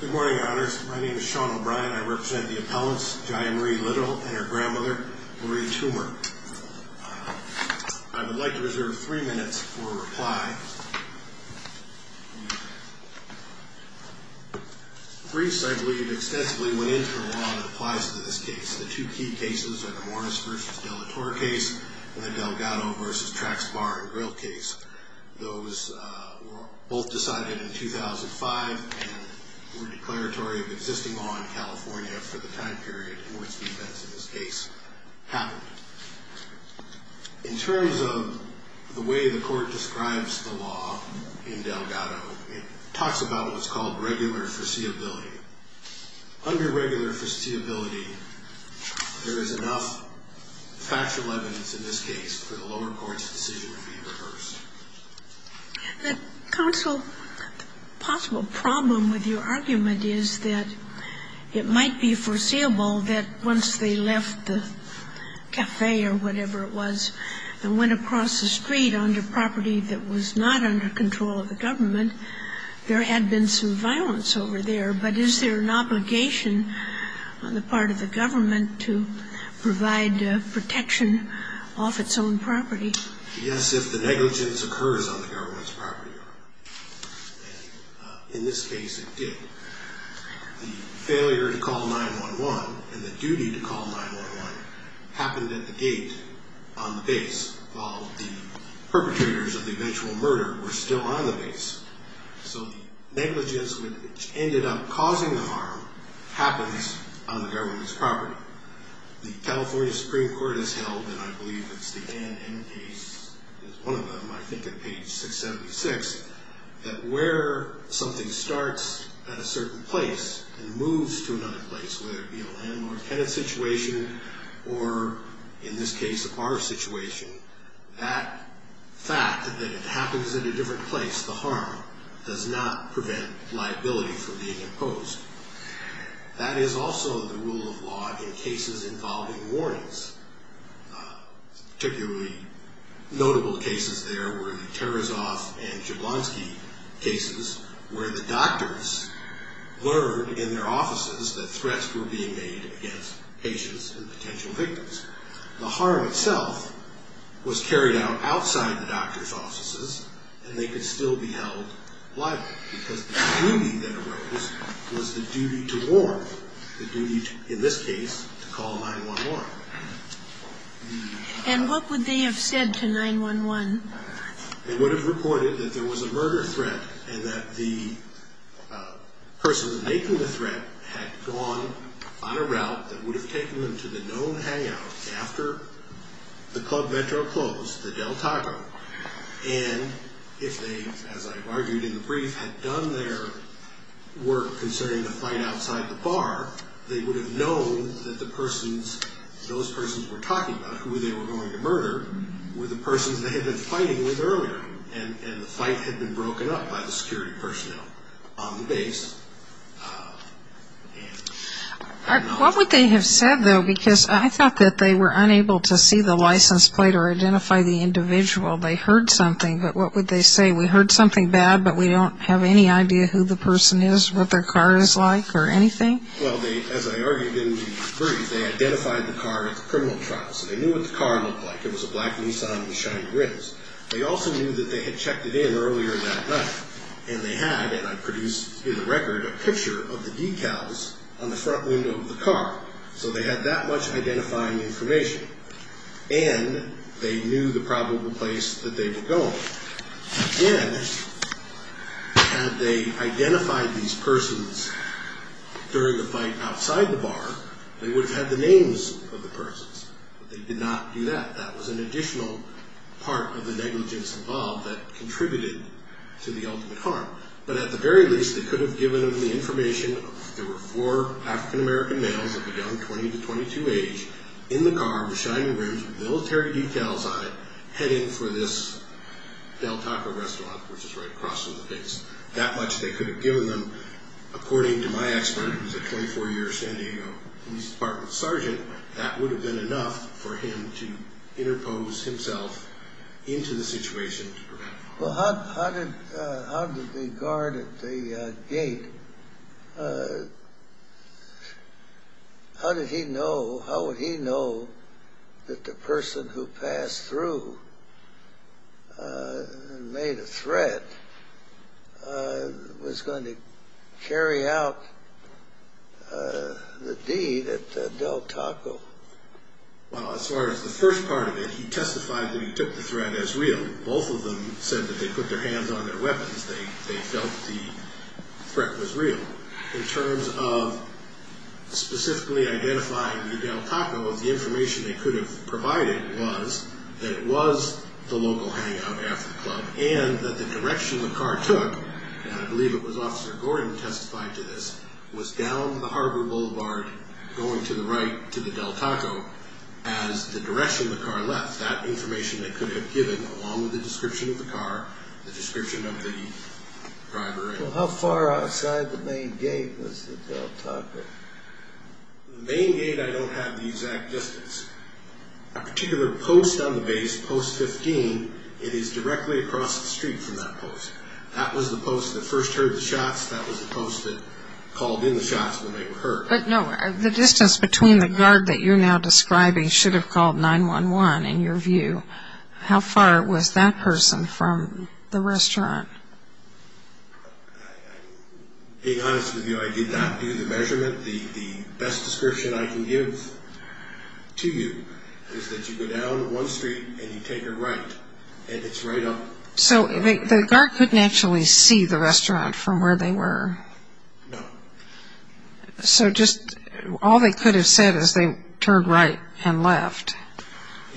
Good morning, Your Honors. My name is Sean O'Brien. I represent the appellants, Jaya Marie Little and her grandmother, Marie Toomer. I would like to reserve three minutes for a reply. Briefs, I believe, extensively went into the law that applies to this case. The two key cases are the Morris v. De La Torre case and the Delgado v. Trax Bar and Grill case. Those were both decided in 2005 and were declaratory of existing law in California for the time period in which the events in this case happened. In terms of the way the Court describes the law in Delgado, it talks about what's called regular foreseeability. Under regular foreseeability, there is enough factual evidence in this case for the lower court's decision to be reversed. Counsel, the possible problem with your argument is that it might be foreseeable that once they left the cafe or whatever it was and went across the street onto property that was not under control of the government, there had been some violence over there. But is there an obligation on the part of the government to provide protection off its own property? Yes, if the negligence occurs on the government's property. In this case, it did. The failure to call 9-1-1 and the duty to call 9-1-1 happened at the gate on the base while the perpetrators of the eventual murder were still on the base. So the negligence which ended up causing the harm happens on the government's property. The California Supreme Court has held and I believe it's the NN case, it's one of them, I think at page 676, that where something starts at a certain place and moves to another place, whether it be a landlord tenant situation or, in this case, a car situation, that fact that it happens at a different place, the harm, does not prevent liability from being imposed. That is also the rule of law in cases involving warnings. Particularly notable cases there were the Tarasov and Jablonsky cases where the doctors learned in their offices that threats were being made against patients and potential victims. The harm itself was carried out outside the doctor's offices and they could still be held liable because the duty that arose was the duty to warn. The duty in this case to call 9-1-1. And what would they have said to 9-1-1? They would have reported that there was a murder threat and that the person making the threat had gone on a route that would have taken them to the known hangout after the club vento closed, the Del Tago. And if they, as I've argued in the brief, had done their work concerning the threat outside the bar, they would have known that the persons those persons were talking about, who they were going to murder, were the persons they had been fighting with earlier. And the fight had been broken up by the security personnel on the base. What would they have said though? Because I thought that they were unable to see the license plate or identify the individual. They heard something but what would they say? We heard something bad but we don't have any idea who the perpetrator was or anything? Well, as I argued in the brief, they identified the car at the criminal trial. So they knew what the car looked like. It was a black Nissan with shiny rims. They also knew that they had checked it in earlier that night. And they had, and I've produced in the record, a picture of the decals on the front window of the car. So they had that much identifying information. And they knew the probable place that they were going. Then, had they identified these persons during the fight outside the bar, they would have had the names of the persons. But they did not do that. That was an additional part of the negligence involved that contributed to the ultimate harm. But at the very least, they could have given them the information that there were four African American males of a young 20 to 22 age in the car with shiny rims with military decals on it heading for this Del Taco restaurant, which is right across from the base. That much they could have given them. According to my expert, who is a 24-year San Diego Police Department sergeant, that would have been enough for him to interpose himself into the situation to prevent violence. Well, how did the guard at the gate, how did he know, how would he know that the person who passed through and made a threat was going to carry out the deed at Del Taco? Well, as far as the first part of it, he testified that he took the threat as real. Both of them said that they put their hands on their weapons. They felt the threat was real. In terms of specifically identifying the Del Taco, the information they could have provided was that it was the local hangout after the club and that the direction the car took, and I believe it was Officer Gordon who testified to this, was down the Harbor Boulevard going to the right to the Del Taco as the direction the car left. That information they could have given, along with the description of the car, the description of the driveway. Well, how far outside the main gate was the Del Taco? The main gate, I don't have the exact distance. A particular post on the base, post 15, it is directly across the street from that post. That was the post that first heard the shots. That was the post that called in the shots when they were heard. But no, the distance between the guard that you're now describing should have called 911 in your view. How far was that person from the restaurant? To be honest with you, I did not do the measurement. The best description I can give to you is that you go down one street and you take a right, and it's right up... So the guard couldn't actually see the restaurant from where they were? No. So just, all they could have said is they turned right and left.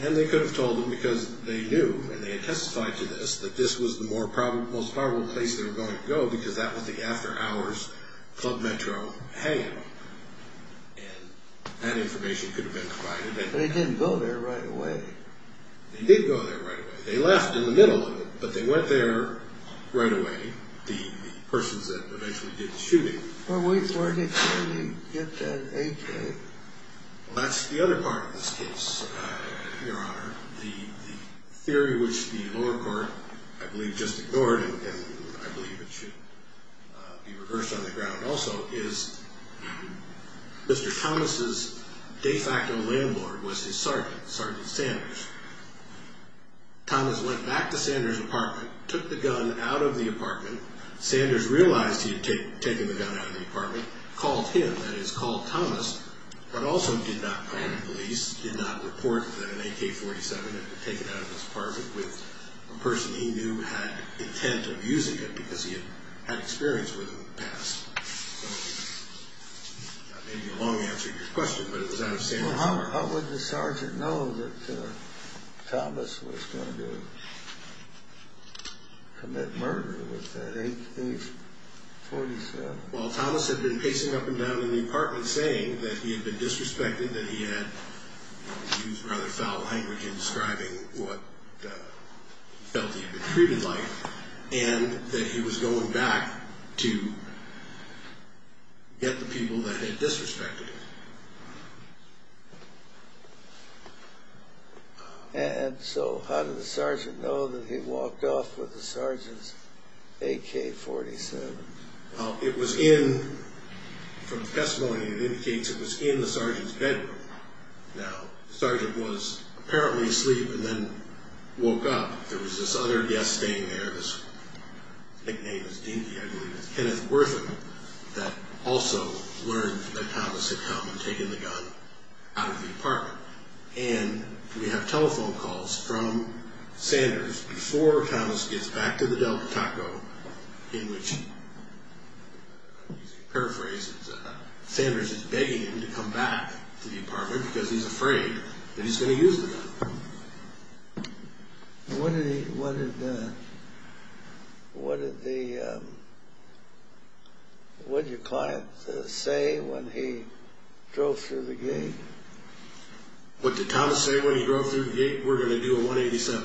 And they could have told them because they knew, and they testified to this, that this was the most probable place they were going to go because that was the after hours club metro hanging up. And that information could have been provided. But they didn't go there right away. They did go there right away. They left in the middle of it, but they went there right away. The persons that eventually did the shooting. Where did they get that AK? Well, that's the other part of this case, Your Honor. The theory which the lower court I believe just ignored, and I believe it should be reversed on the ground also, is Mr. Thomas' de facto landlord was his sergeant, Sergeant Sanders. Thomas went back to Sanders' apartment, took the gun out of the apartment. Sanders realized he had taken the gun out of the apartment, called him, that is called Thomas, but also did not call the police, did not report that an AK-47 had been taken out of his apartment with a person he knew had intent of using it because he had experience with them in the past. That may be a long answer to your question, but it was out of Sanders' heart. How would the sergeant know that Thomas was going to commit murder with an AK-47? Well, Thomas had been pacing up and down in the apartment saying that he had been disrespected, that he had used rather foul language in describing what he felt he had been treated like, and that he was going back to get the people that had disrespected him. And so how did the sergeant know that he walked off with the sergeant's AK-47? Well, it was in, from the testimony it indicates it was in the sergeant's bedroom. Now, the sergeant was apparently asleep and then woke up. There was this other guest staying there, his nickname is Dinky, I believe it's Kenneth Wortham, that also learned that Thomas had come and taken the gun out of the apartment. And we have telephone calls from Sanders before Thomas gets back to the Delcataco in which, paraphrasing, Sanders is begging him to come back to the apartment because he's afraid that he's going to use the gun. What did he, what did, what did the, what did your client say when he drove through the gate? What did Thomas say when he drove through the gate? We're going to do a 187.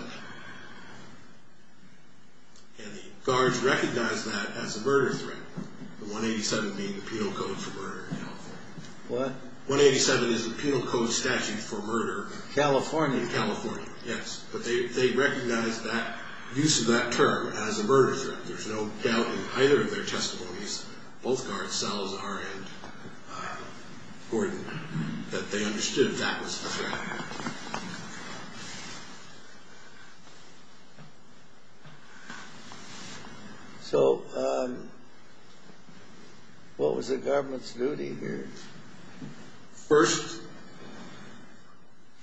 And the guards recognized that as a murder threat. The 187 being the penal code for murder in California. What? 187 is the penal code statute for murder in California. Yes. But they recognized that use of that term as a murder threat. There's no doubt in either of their testimonies, both guards, Salazar and Gordon, that they understood that was a threat. So, um, what was the government's duty here? First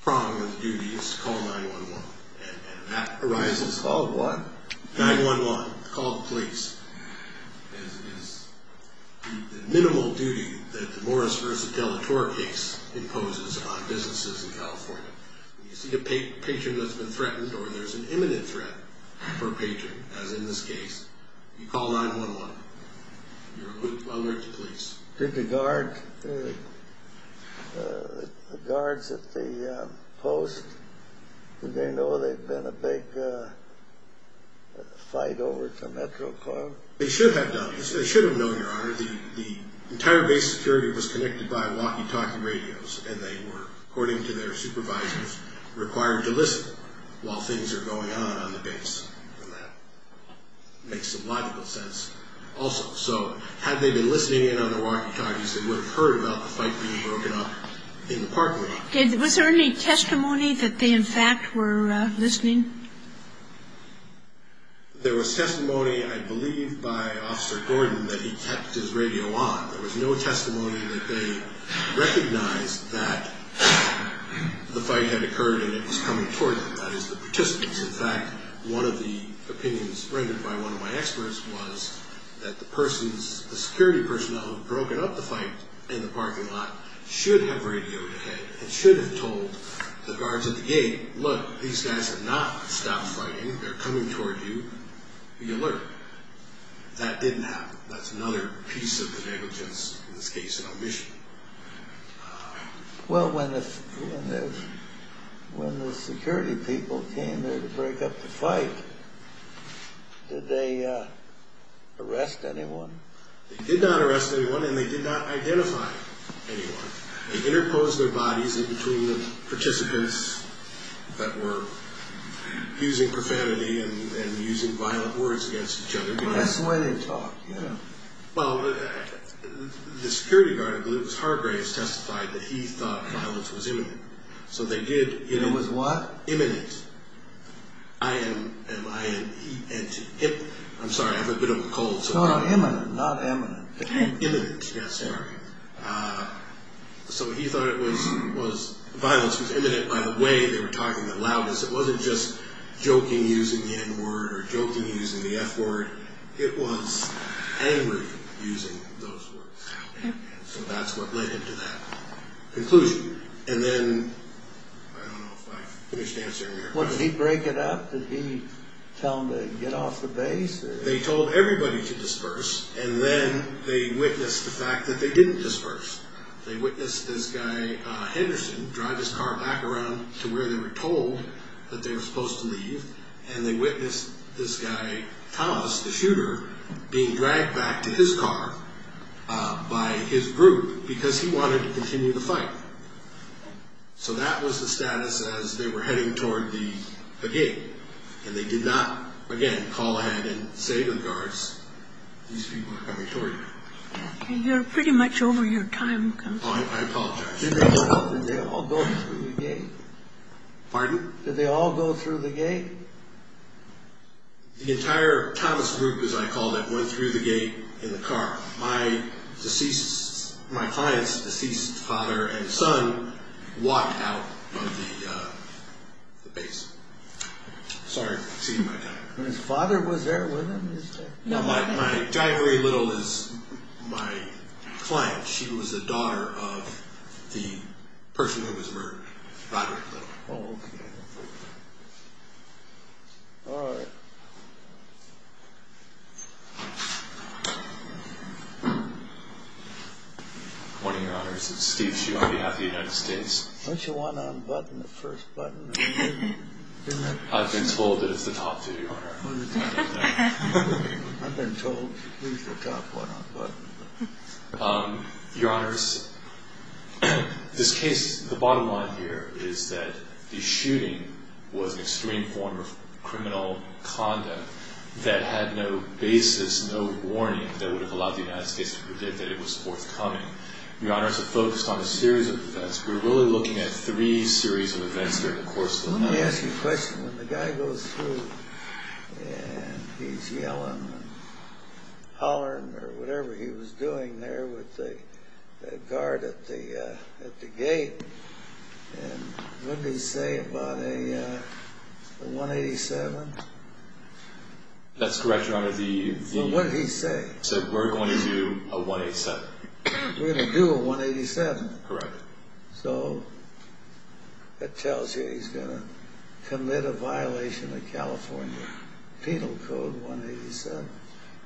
prong of the duty is to call 9-1-1. And that arises. Call what? 9-1-1. Call the police. The minimal duty that the Morris v. Delatorre case imposes on businesses in California. When you see a patron that's been threatened or there's an imminent threat per patron, as in this case, you call 9-1-1. You're alert to police. Did the guards at the post, did they know they'd been a big fight over to Metro Club? They should have known, Your Honor. The entire base security was connected by walkie-talkie radios, and they were, according to their supervisors, required to listen while things are going on on the base. And that makes some logical sense also. So had they been listening in on the walkie-talkies, they would have heard about the fight being broken up in the parking lot. Was there any testimony that they in fact were listening? There was testimony, I believe, by Officer Gordon that he kept his radio on. There was no testimony that they recognized that the fight had occurred and it was coming toward them. That is, the participants. In fact, one of the opinions rendered by one of my experts was that the security personnel who had broken up the fight in the parking lot should have radioed ahead and should have told the guards at the gate, look, these guys have not stopped fighting. They're coming toward you. Be alert. That didn't happen. That's another piece of the negligence, in this case, of omission. Well, when the security people came there to break up the fight, did they arrest anyone? They did not arrest anyone and they did not identify anyone. They interposed their bodies in between the participants that were using profanity and using violent words against each other. That's the way they talk. Well, the security guard, I believe it was Hargraves, testified that he thought violence was imminent. It was what? Imminent. I'm sorry, I have a bit of a cold. Not imminent. Imminent. Yes, sir. So he thought violence was imminent by the way they were talking the loudest. It wasn't just joking using the N word or joking using the F word. It was angry using those words. So that's what led him to that conclusion. And then, I don't know if I finished answering your question. Did he break it up? Did he tell them to get off the base? They told everybody to disperse and then they witnessed the fact that they didn't disperse. They witnessed this guy, Henderson, drive his car back around to where they were told that they were supposed to leave and they witnessed this guy, Thomas, the shooter, being dragged back to his car by his group because he wanted to continue the fight. So that was the status as they were heading toward the gate and they did not again call ahead and say to the guards, these people are coming toward you. You're pretty much over your time counselor. I apologize. Did they all go through the gate? Pardon? Did they all go through the gate? The entire Thomas group, as I called it, went through the gate in the car. My client's deceased father and son walked out of the base. Sorry for exceeding my time. And his father was there with him? No, my, Diane Marie Little is my client. She was the daughter of the father. Oh, okay. All right. Good morning, Your Honors. It's Steve Shew on behalf of the United States. Why don't you want to unbutton the first button? I've been told that it's the top two, Your Honor. I've been told to use the top one unbuttoned. Your Honors, this bottom line here is that the shooting was an extreme form of criminal conduct that had no basis, no warning that would have allowed the United States to predict that it was forthcoming. Your Honors, to focus on a series of events, we're really looking at three series of events during the course of the night. Let me ask you a question. When the guy goes through and he's yelling and hollering or whatever he was doing there with the guard at the gate, what did he say about a 187? That's correct, Your Honor. What did he say? He said we're going to do a 187. We're going to do a 187? Correct. That tells you he's going to commit a violation of California Penal Code 187.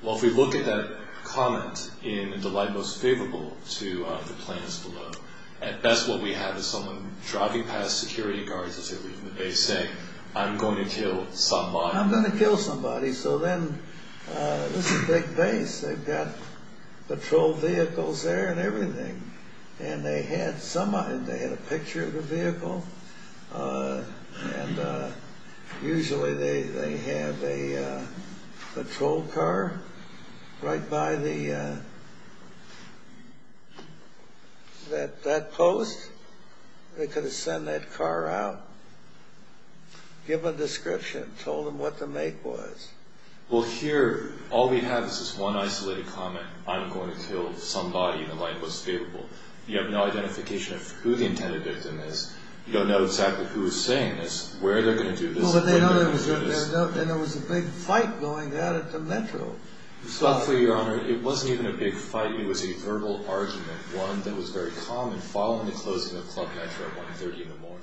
Well, if we look at that comment in the light most favorable to our plans below, at best what we have is someone driving past security guards as they're leaving the base saying, I'm going to kill somebody. I'm going to kill somebody, so then this is a big base. They've got patrol vehicles there and everything. They had a picture of the vehicle and usually they have a patrol car right by the that post. They could have sent that car out, give a description, told them what the make was. Well, here all we have is this one isolated comment, I'm going to kill somebody in the light most favorable. You have no identification of who the intended victim is. You don't know exactly who is saying this, where they're going to do this, when they're going to do this. Well, but they know there was a big fight going on at the Metro. Well, for Your Honor, it wasn't even a big argument, one that was very common following the closing of Club Metro at 1.30 in the morning.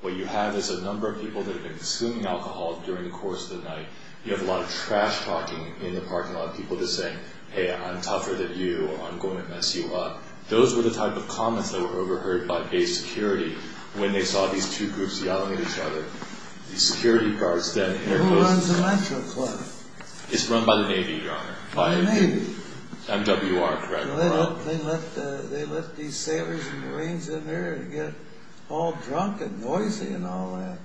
What you have is a number of people that have been consuming alcohol during the course of the night. You have a lot of trash talking in the parking lot, people just saying, hey, I'm tougher than you or I'm going to mess you up. Those were the type of comments that were overheard by base security when they saw these two groups yelling at each other. The security guards then interposed... Who runs the Metro Club? It's run by the Navy, Your Honor. By the Navy? MWR, correct. They let these sailors and Marines in there and get all drunk and noisy and all that.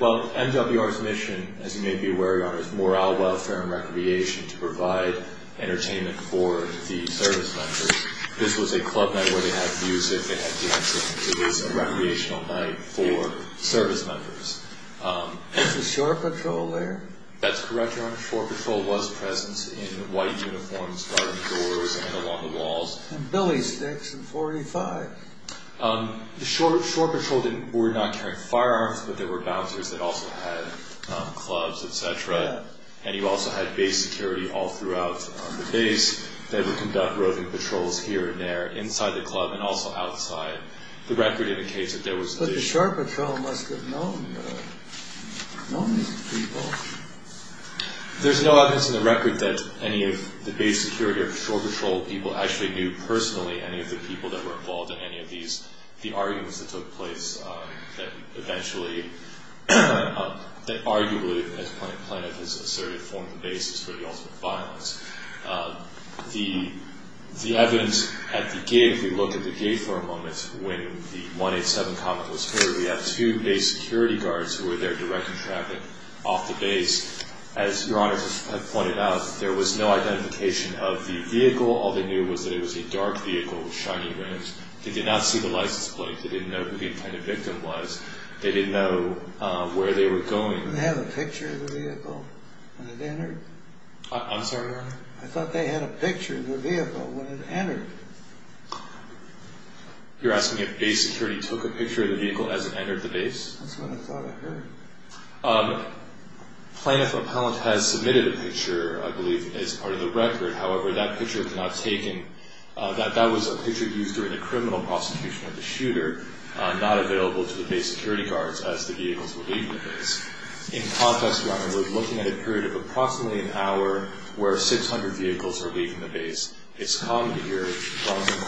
Well, MWR's mission, as you may be aware, Your Honor, is morale, welfare, and recreation to provide entertainment for the service members. This was a club night where they had music, they had dancing. It was a recreational night for service members. Was the shore patrol there? That's correct, Your Honor. Shore patrol was present in white uniforms by the doors and along the walls. And billy sticks and .45. The shore patrol were not carrying firearms, but there were bouncers that also had clubs, etc. And you also had base security all throughout the base. They would conduct roving patrols here and there inside the club and also outside. The record indicates that there was... But the shore patrol must have known these people. There's no evidence in the record that any of the base security or shore patrol people actually knew personally any of the people that were involved in any of these, the arguments that took place that eventually, that arguably, as Planet Planet has asserted, formed the basis for the ultimate violence. The evidence at the gig, we look at the gig for a moment when the 187 comment was heard. We have two base security guards who were there directing traffic off the base. As Your Honor has pointed out, there was no identification of the vehicle. All they knew was that it was a dark vehicle with shiny rims. They did not see the license plate. They didn't know who the intended victim was. They didn't know where they were going. Did they have a picture of the vehicle when it entered? I'm sorry, Your Honor? I thought they had a picture of the vehicle when it entered. You're asking if base security took a picture of the vehicle as it entered? Planet Propellant has submitted a picture, I believe, as part of the record. However, that picture cannot take in that that was a picture used during the criminal prosecution of the shooter not available to the base security guards as the vehicles were leaving the base. In context, Your Honor, we're looking at a period of approximately an hour where 600 vehicles are leaving the base. It's common to hear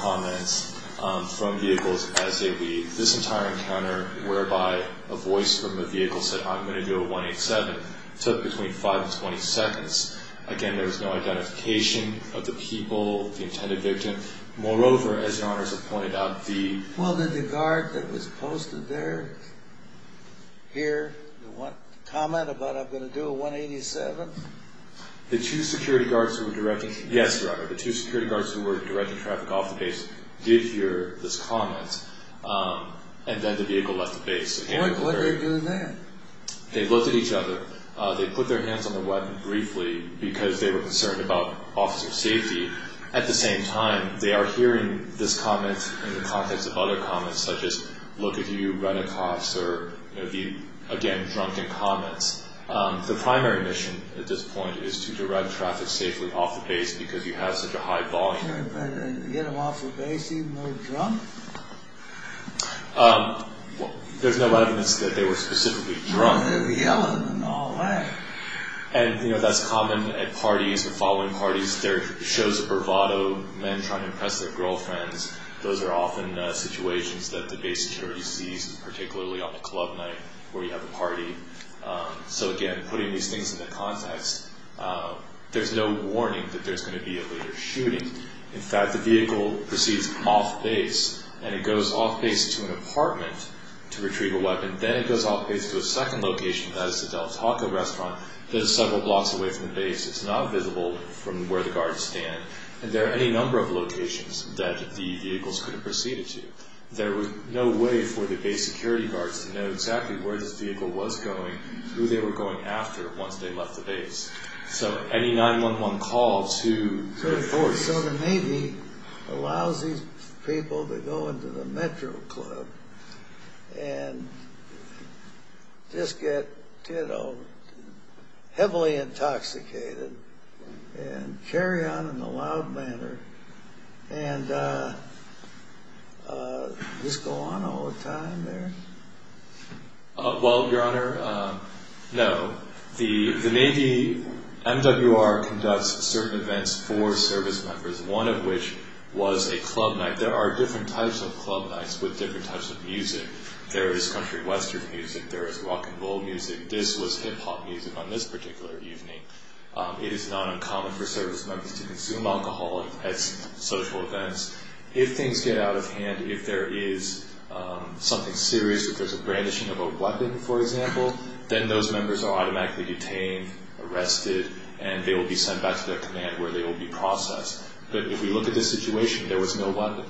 comments from vehicles as they leave. This entire encounter whereby a voice from a vehicle said, I'm going to do a 187 took between 5 and 20 seconds. Again, there was no identification of the people, the intended victim. Moreover, as Your Honor has pointed out, the... Well, did the guard that was posted there hear the comment about, I'm going to do a 187? The two security guards who were directing... Yes, Your Honor. The two security guards who were directing traffic off the base did hear this comment and then the vehicle left the base. What did they do then? They looked at each other. They put their hands on the weapon briefly because they were concerned about officer safety. At the same time, they are hearing this comment in the context of other comments such as look at you, Reddacuffs, or the, again, drunken comments. The primary mission at this point is to direct traffic safely off the base because you have such a high volume. Get them off the base. There's no evidence that they were specifically drunk. They were yelling and all that. That's common at parties or following parties. There are shows of bravado, men trying to impress their girlfriends. Those are often situations that the base security sees, particularly on a club night where you have a party. Again, putting these things into context, there's no warning that there's going to be a later shooting. In fact, the vehicle proceeds off base and it goes off base to an apartment to retrieve a weapon. Then it goes off base to a second location, that is the Del Taco restaurant that is several blocks away from the base. It's not visible from where the guards stand. There are any number of locations that the vehicles could have proceeded to. There was no way for the base security guards to know exactly where this vehicle was going, who they were going after once they left the base. So any 911 call to the force or the Navy allows these people to go into the Metro Club and just get heavily intoxicated and carry on in a loud manner and just go on all the time there? Well, Your Honor, no. The Navy, MWR, conducts certain events for service members, one of which was a club night. There are different types of club nights with different types of music. There is country western music. There is rock and roll music. This was hip-hop music on this particular evening. It is not uncommon for service members to consume alcohol at social events. If things get out of hand, if there is something serious, if there's a brandishing of a weapon, for example, then those members are automatically detained, arrested, and they will be sent back to their command where they will be processed. But if we look at the situation, there was no weapon.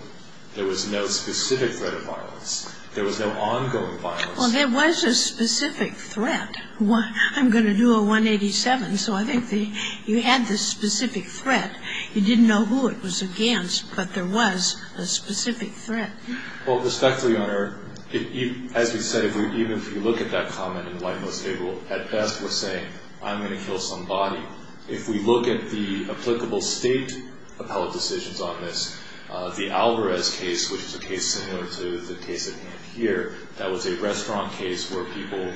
There was no specific threat of violence. There was no ongoing violence. Well, there was a specific threat. I'm going to do a 187, so I think you had this specific threat. You didn't know who it was against, but there was a specific threat. Well, respectfully, Your Honor, as we said, even if you look at that comment in the White Most Valuable at best, we're saying, I'm going to kill somebody. If we look at the applicable state appellate decisions on this, the Alvarez case, which is a case similar to the case that we have here, that was a restaurant case where people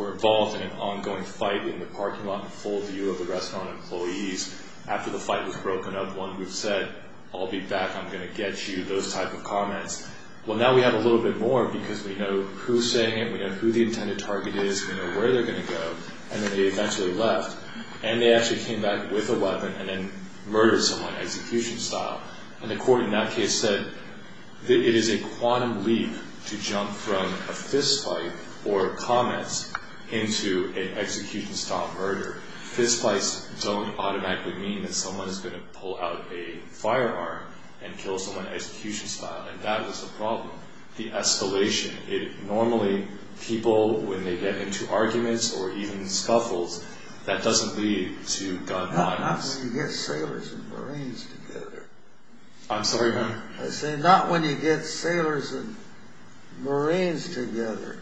were involved in an ongoing fight in the parking lot in full view of the restaurant employees. After the fight was broken up, one group said, I'll be back. I'm going to get you, those type of comments. Well, now we have a little bit more because we know who is saying it. We know who the intended target is. We know where they're going to go. Then they eventually left. They actually came back with a weapon and then murdered someone execution style. The court in that case said it is a quantum leap to jump from a fist fight or comments into an execution style murder. Fist fights don't automatically mean that someone is going to pull out a firearm and kill someone execution style. That was the problem. The only people, when they get into arguments or even scuffles, that doesn't lead to gun violence. Not when you get sailors and Marines together. I'm sorry, ma'am? I said not when you get sailors and Marines together.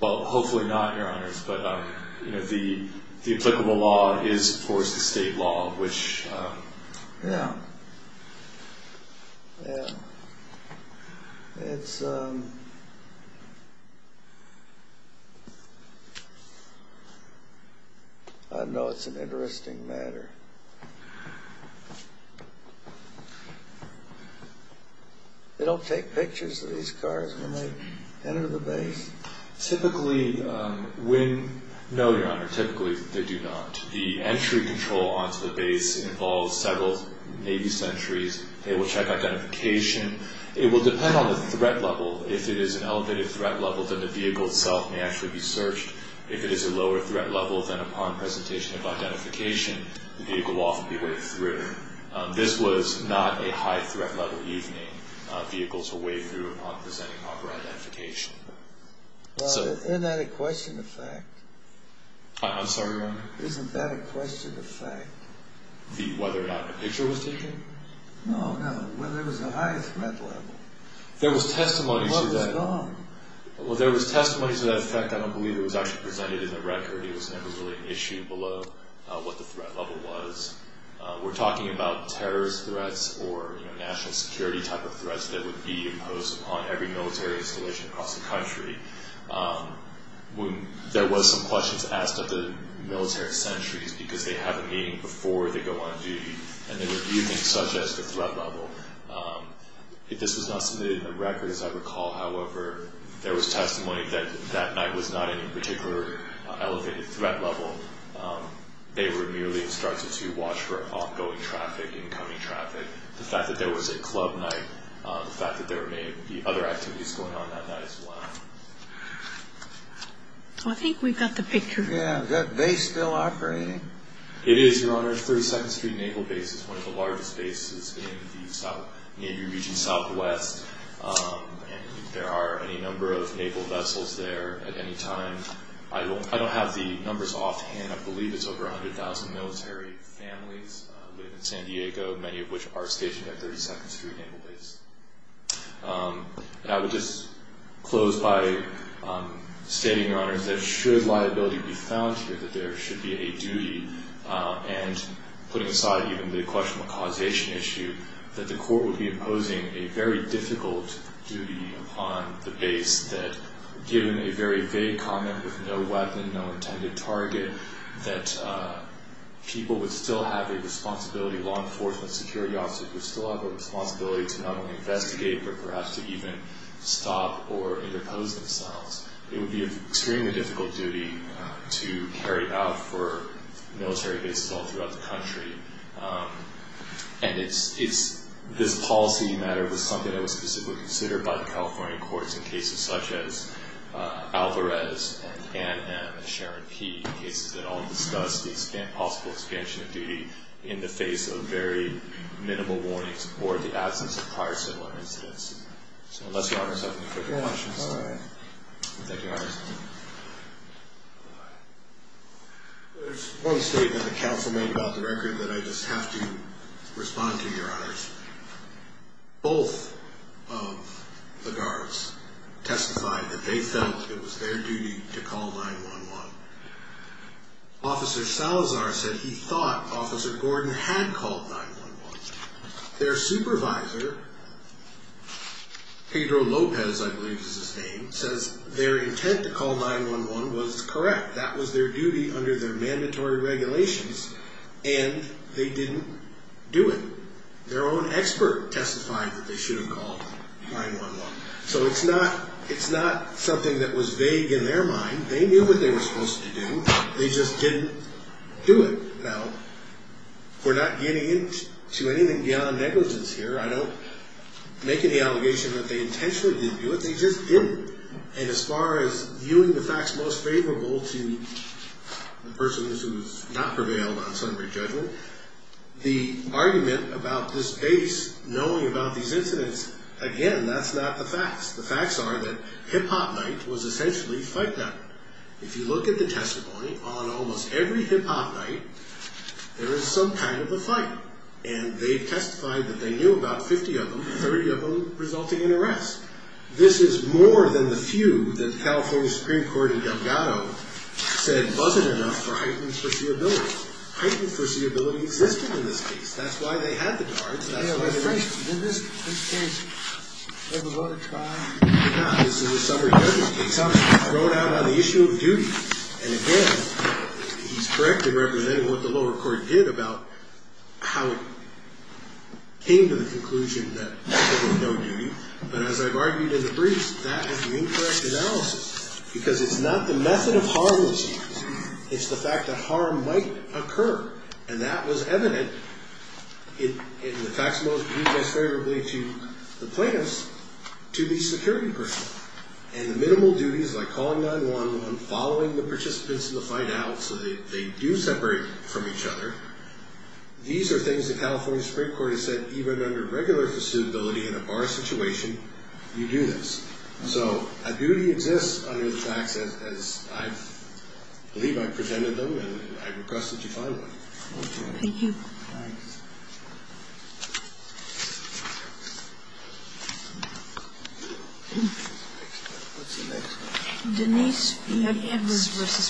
Well, hopefully not, Your Honors, but the applicable law is, of course, the state law, which... Yeah. Yeah. It's... I know it's an interesting matter. They don't take pictures of these cars when they enter the base? Typically, when... No, Your Honor, typically they do not. The entry control onto the vehicle is not a question of fact. Well, isn't that a question of fact? I'm sorry, Your Honor? Isn't that a question of fact? No, Your Honor. No, Your Honor. No, no. Well, there was testimony to that fact. I don't believe it was actually presented in the record. It was never really an issue below what the threat level was. We're talking about terrorist threats or national security type of threats that would be imposed upon every military installation across the country. There was some questions asked of the military centuries because they have a meeting before they go on duty and they were viewing such as the threat level. If this was not submitted in the record, as I recall, however, there was testimony that that night was not any particular elevated threat level. They were merely instructed to watch for ongoing traffic, incoming traffic, the fact that there was a club night, the fact that there may be other activities going on that night as well. I think we've got the picture. Yeah. Is that base still operating? It is, Your Honor. 32nd Street Naval Base is one of the largest bases in the Navy region southwest. There are any number of naval vessels there at any time. I don't have the numbers offhand. I believe it's over 100,000 military families living in San Diego, many of which are stationed at 32nd Street Naval Base. I would just close by stating, Your Honor, that should liability be found here, that there should be a duty, and putting aside even the question of causation issue, that the court would be imposing a very difficult duty upon the base that, given a very vague comment with no weapon, no intended target, that people would still have a responsibility, law enforcement, security officers would still have a responsibility to not only investigate but perhaps to even stop or interpose themselves. It would be an obligation to carry it out for military bases all throughout the country. And this policy matter was something that was specifically considered by the California courts in cases such as Alvarez and Ann M. and Sharon P., cases that all discussed the possible expansion of duty in the face of very minimal warnings or the absence of prior similar incidents. Unless Your Honor has any further questions. Thank you, Your Honor. There's one statement the counsel made about the record that I just have to respond to, Your Honor. Both of the guards testified that they felt it was their duty to call 911. Officer Salazar said he thought Officer Gordon had called 911. Their supervisor, Pedro Lopez, I believe is his name, says their intent to call 911 was correct. That was their duty under their mandatory regulations and they didn't do it. Their own expert testified that they should have called 911. So it's not something that was vague in their mind. They knew what they were supposed to do. They just didn't do it. Now, we're not getting into anything beyond negligence here. I don't make any allegation that they intentionally didn't do it. They just didn't. And as far as viewing the facts most favorable to the persons who have not prevailed on summary judgment, the argument about this base knowing about these incidents, again, that's not the facts. The facts are that Hip Hop Night was essentially fight night. If you look at the testimony on almost every Hip Hop Night, there is some kind of a fight. And they testified that they knew about 50 of them, 30 of them resulting in arrest. This is more than the few that the California Supreme Court in Delgado said wasn't enough for heightened foreseeability. Heightened foreseeability existed in this case. That's why they had the guards. Did this case ever go to trial? It did not. This is a summary judgment case. It was thrown out on the issue of duty. And again, he's correct in representing what the lower court did about how it came to the conclusion that there was no duty. But as I've argued in the briefs, that is the incorrect analysis. Because it's not the method of harmlessness. It's the fact that harm might occur. And that was evident in the facts most viewed most favorably to the plaintiffs, to the security personnel. And the minimal duties like calling 911, following the death of a loved one, calling 911. These are things the California Supreme Court has said even under regular foreseeability in a bar situation, you do this. So a duty exists under the facts as I believe I've presented them. And I request that you find one. Thank you. Denise B. Edwards versus.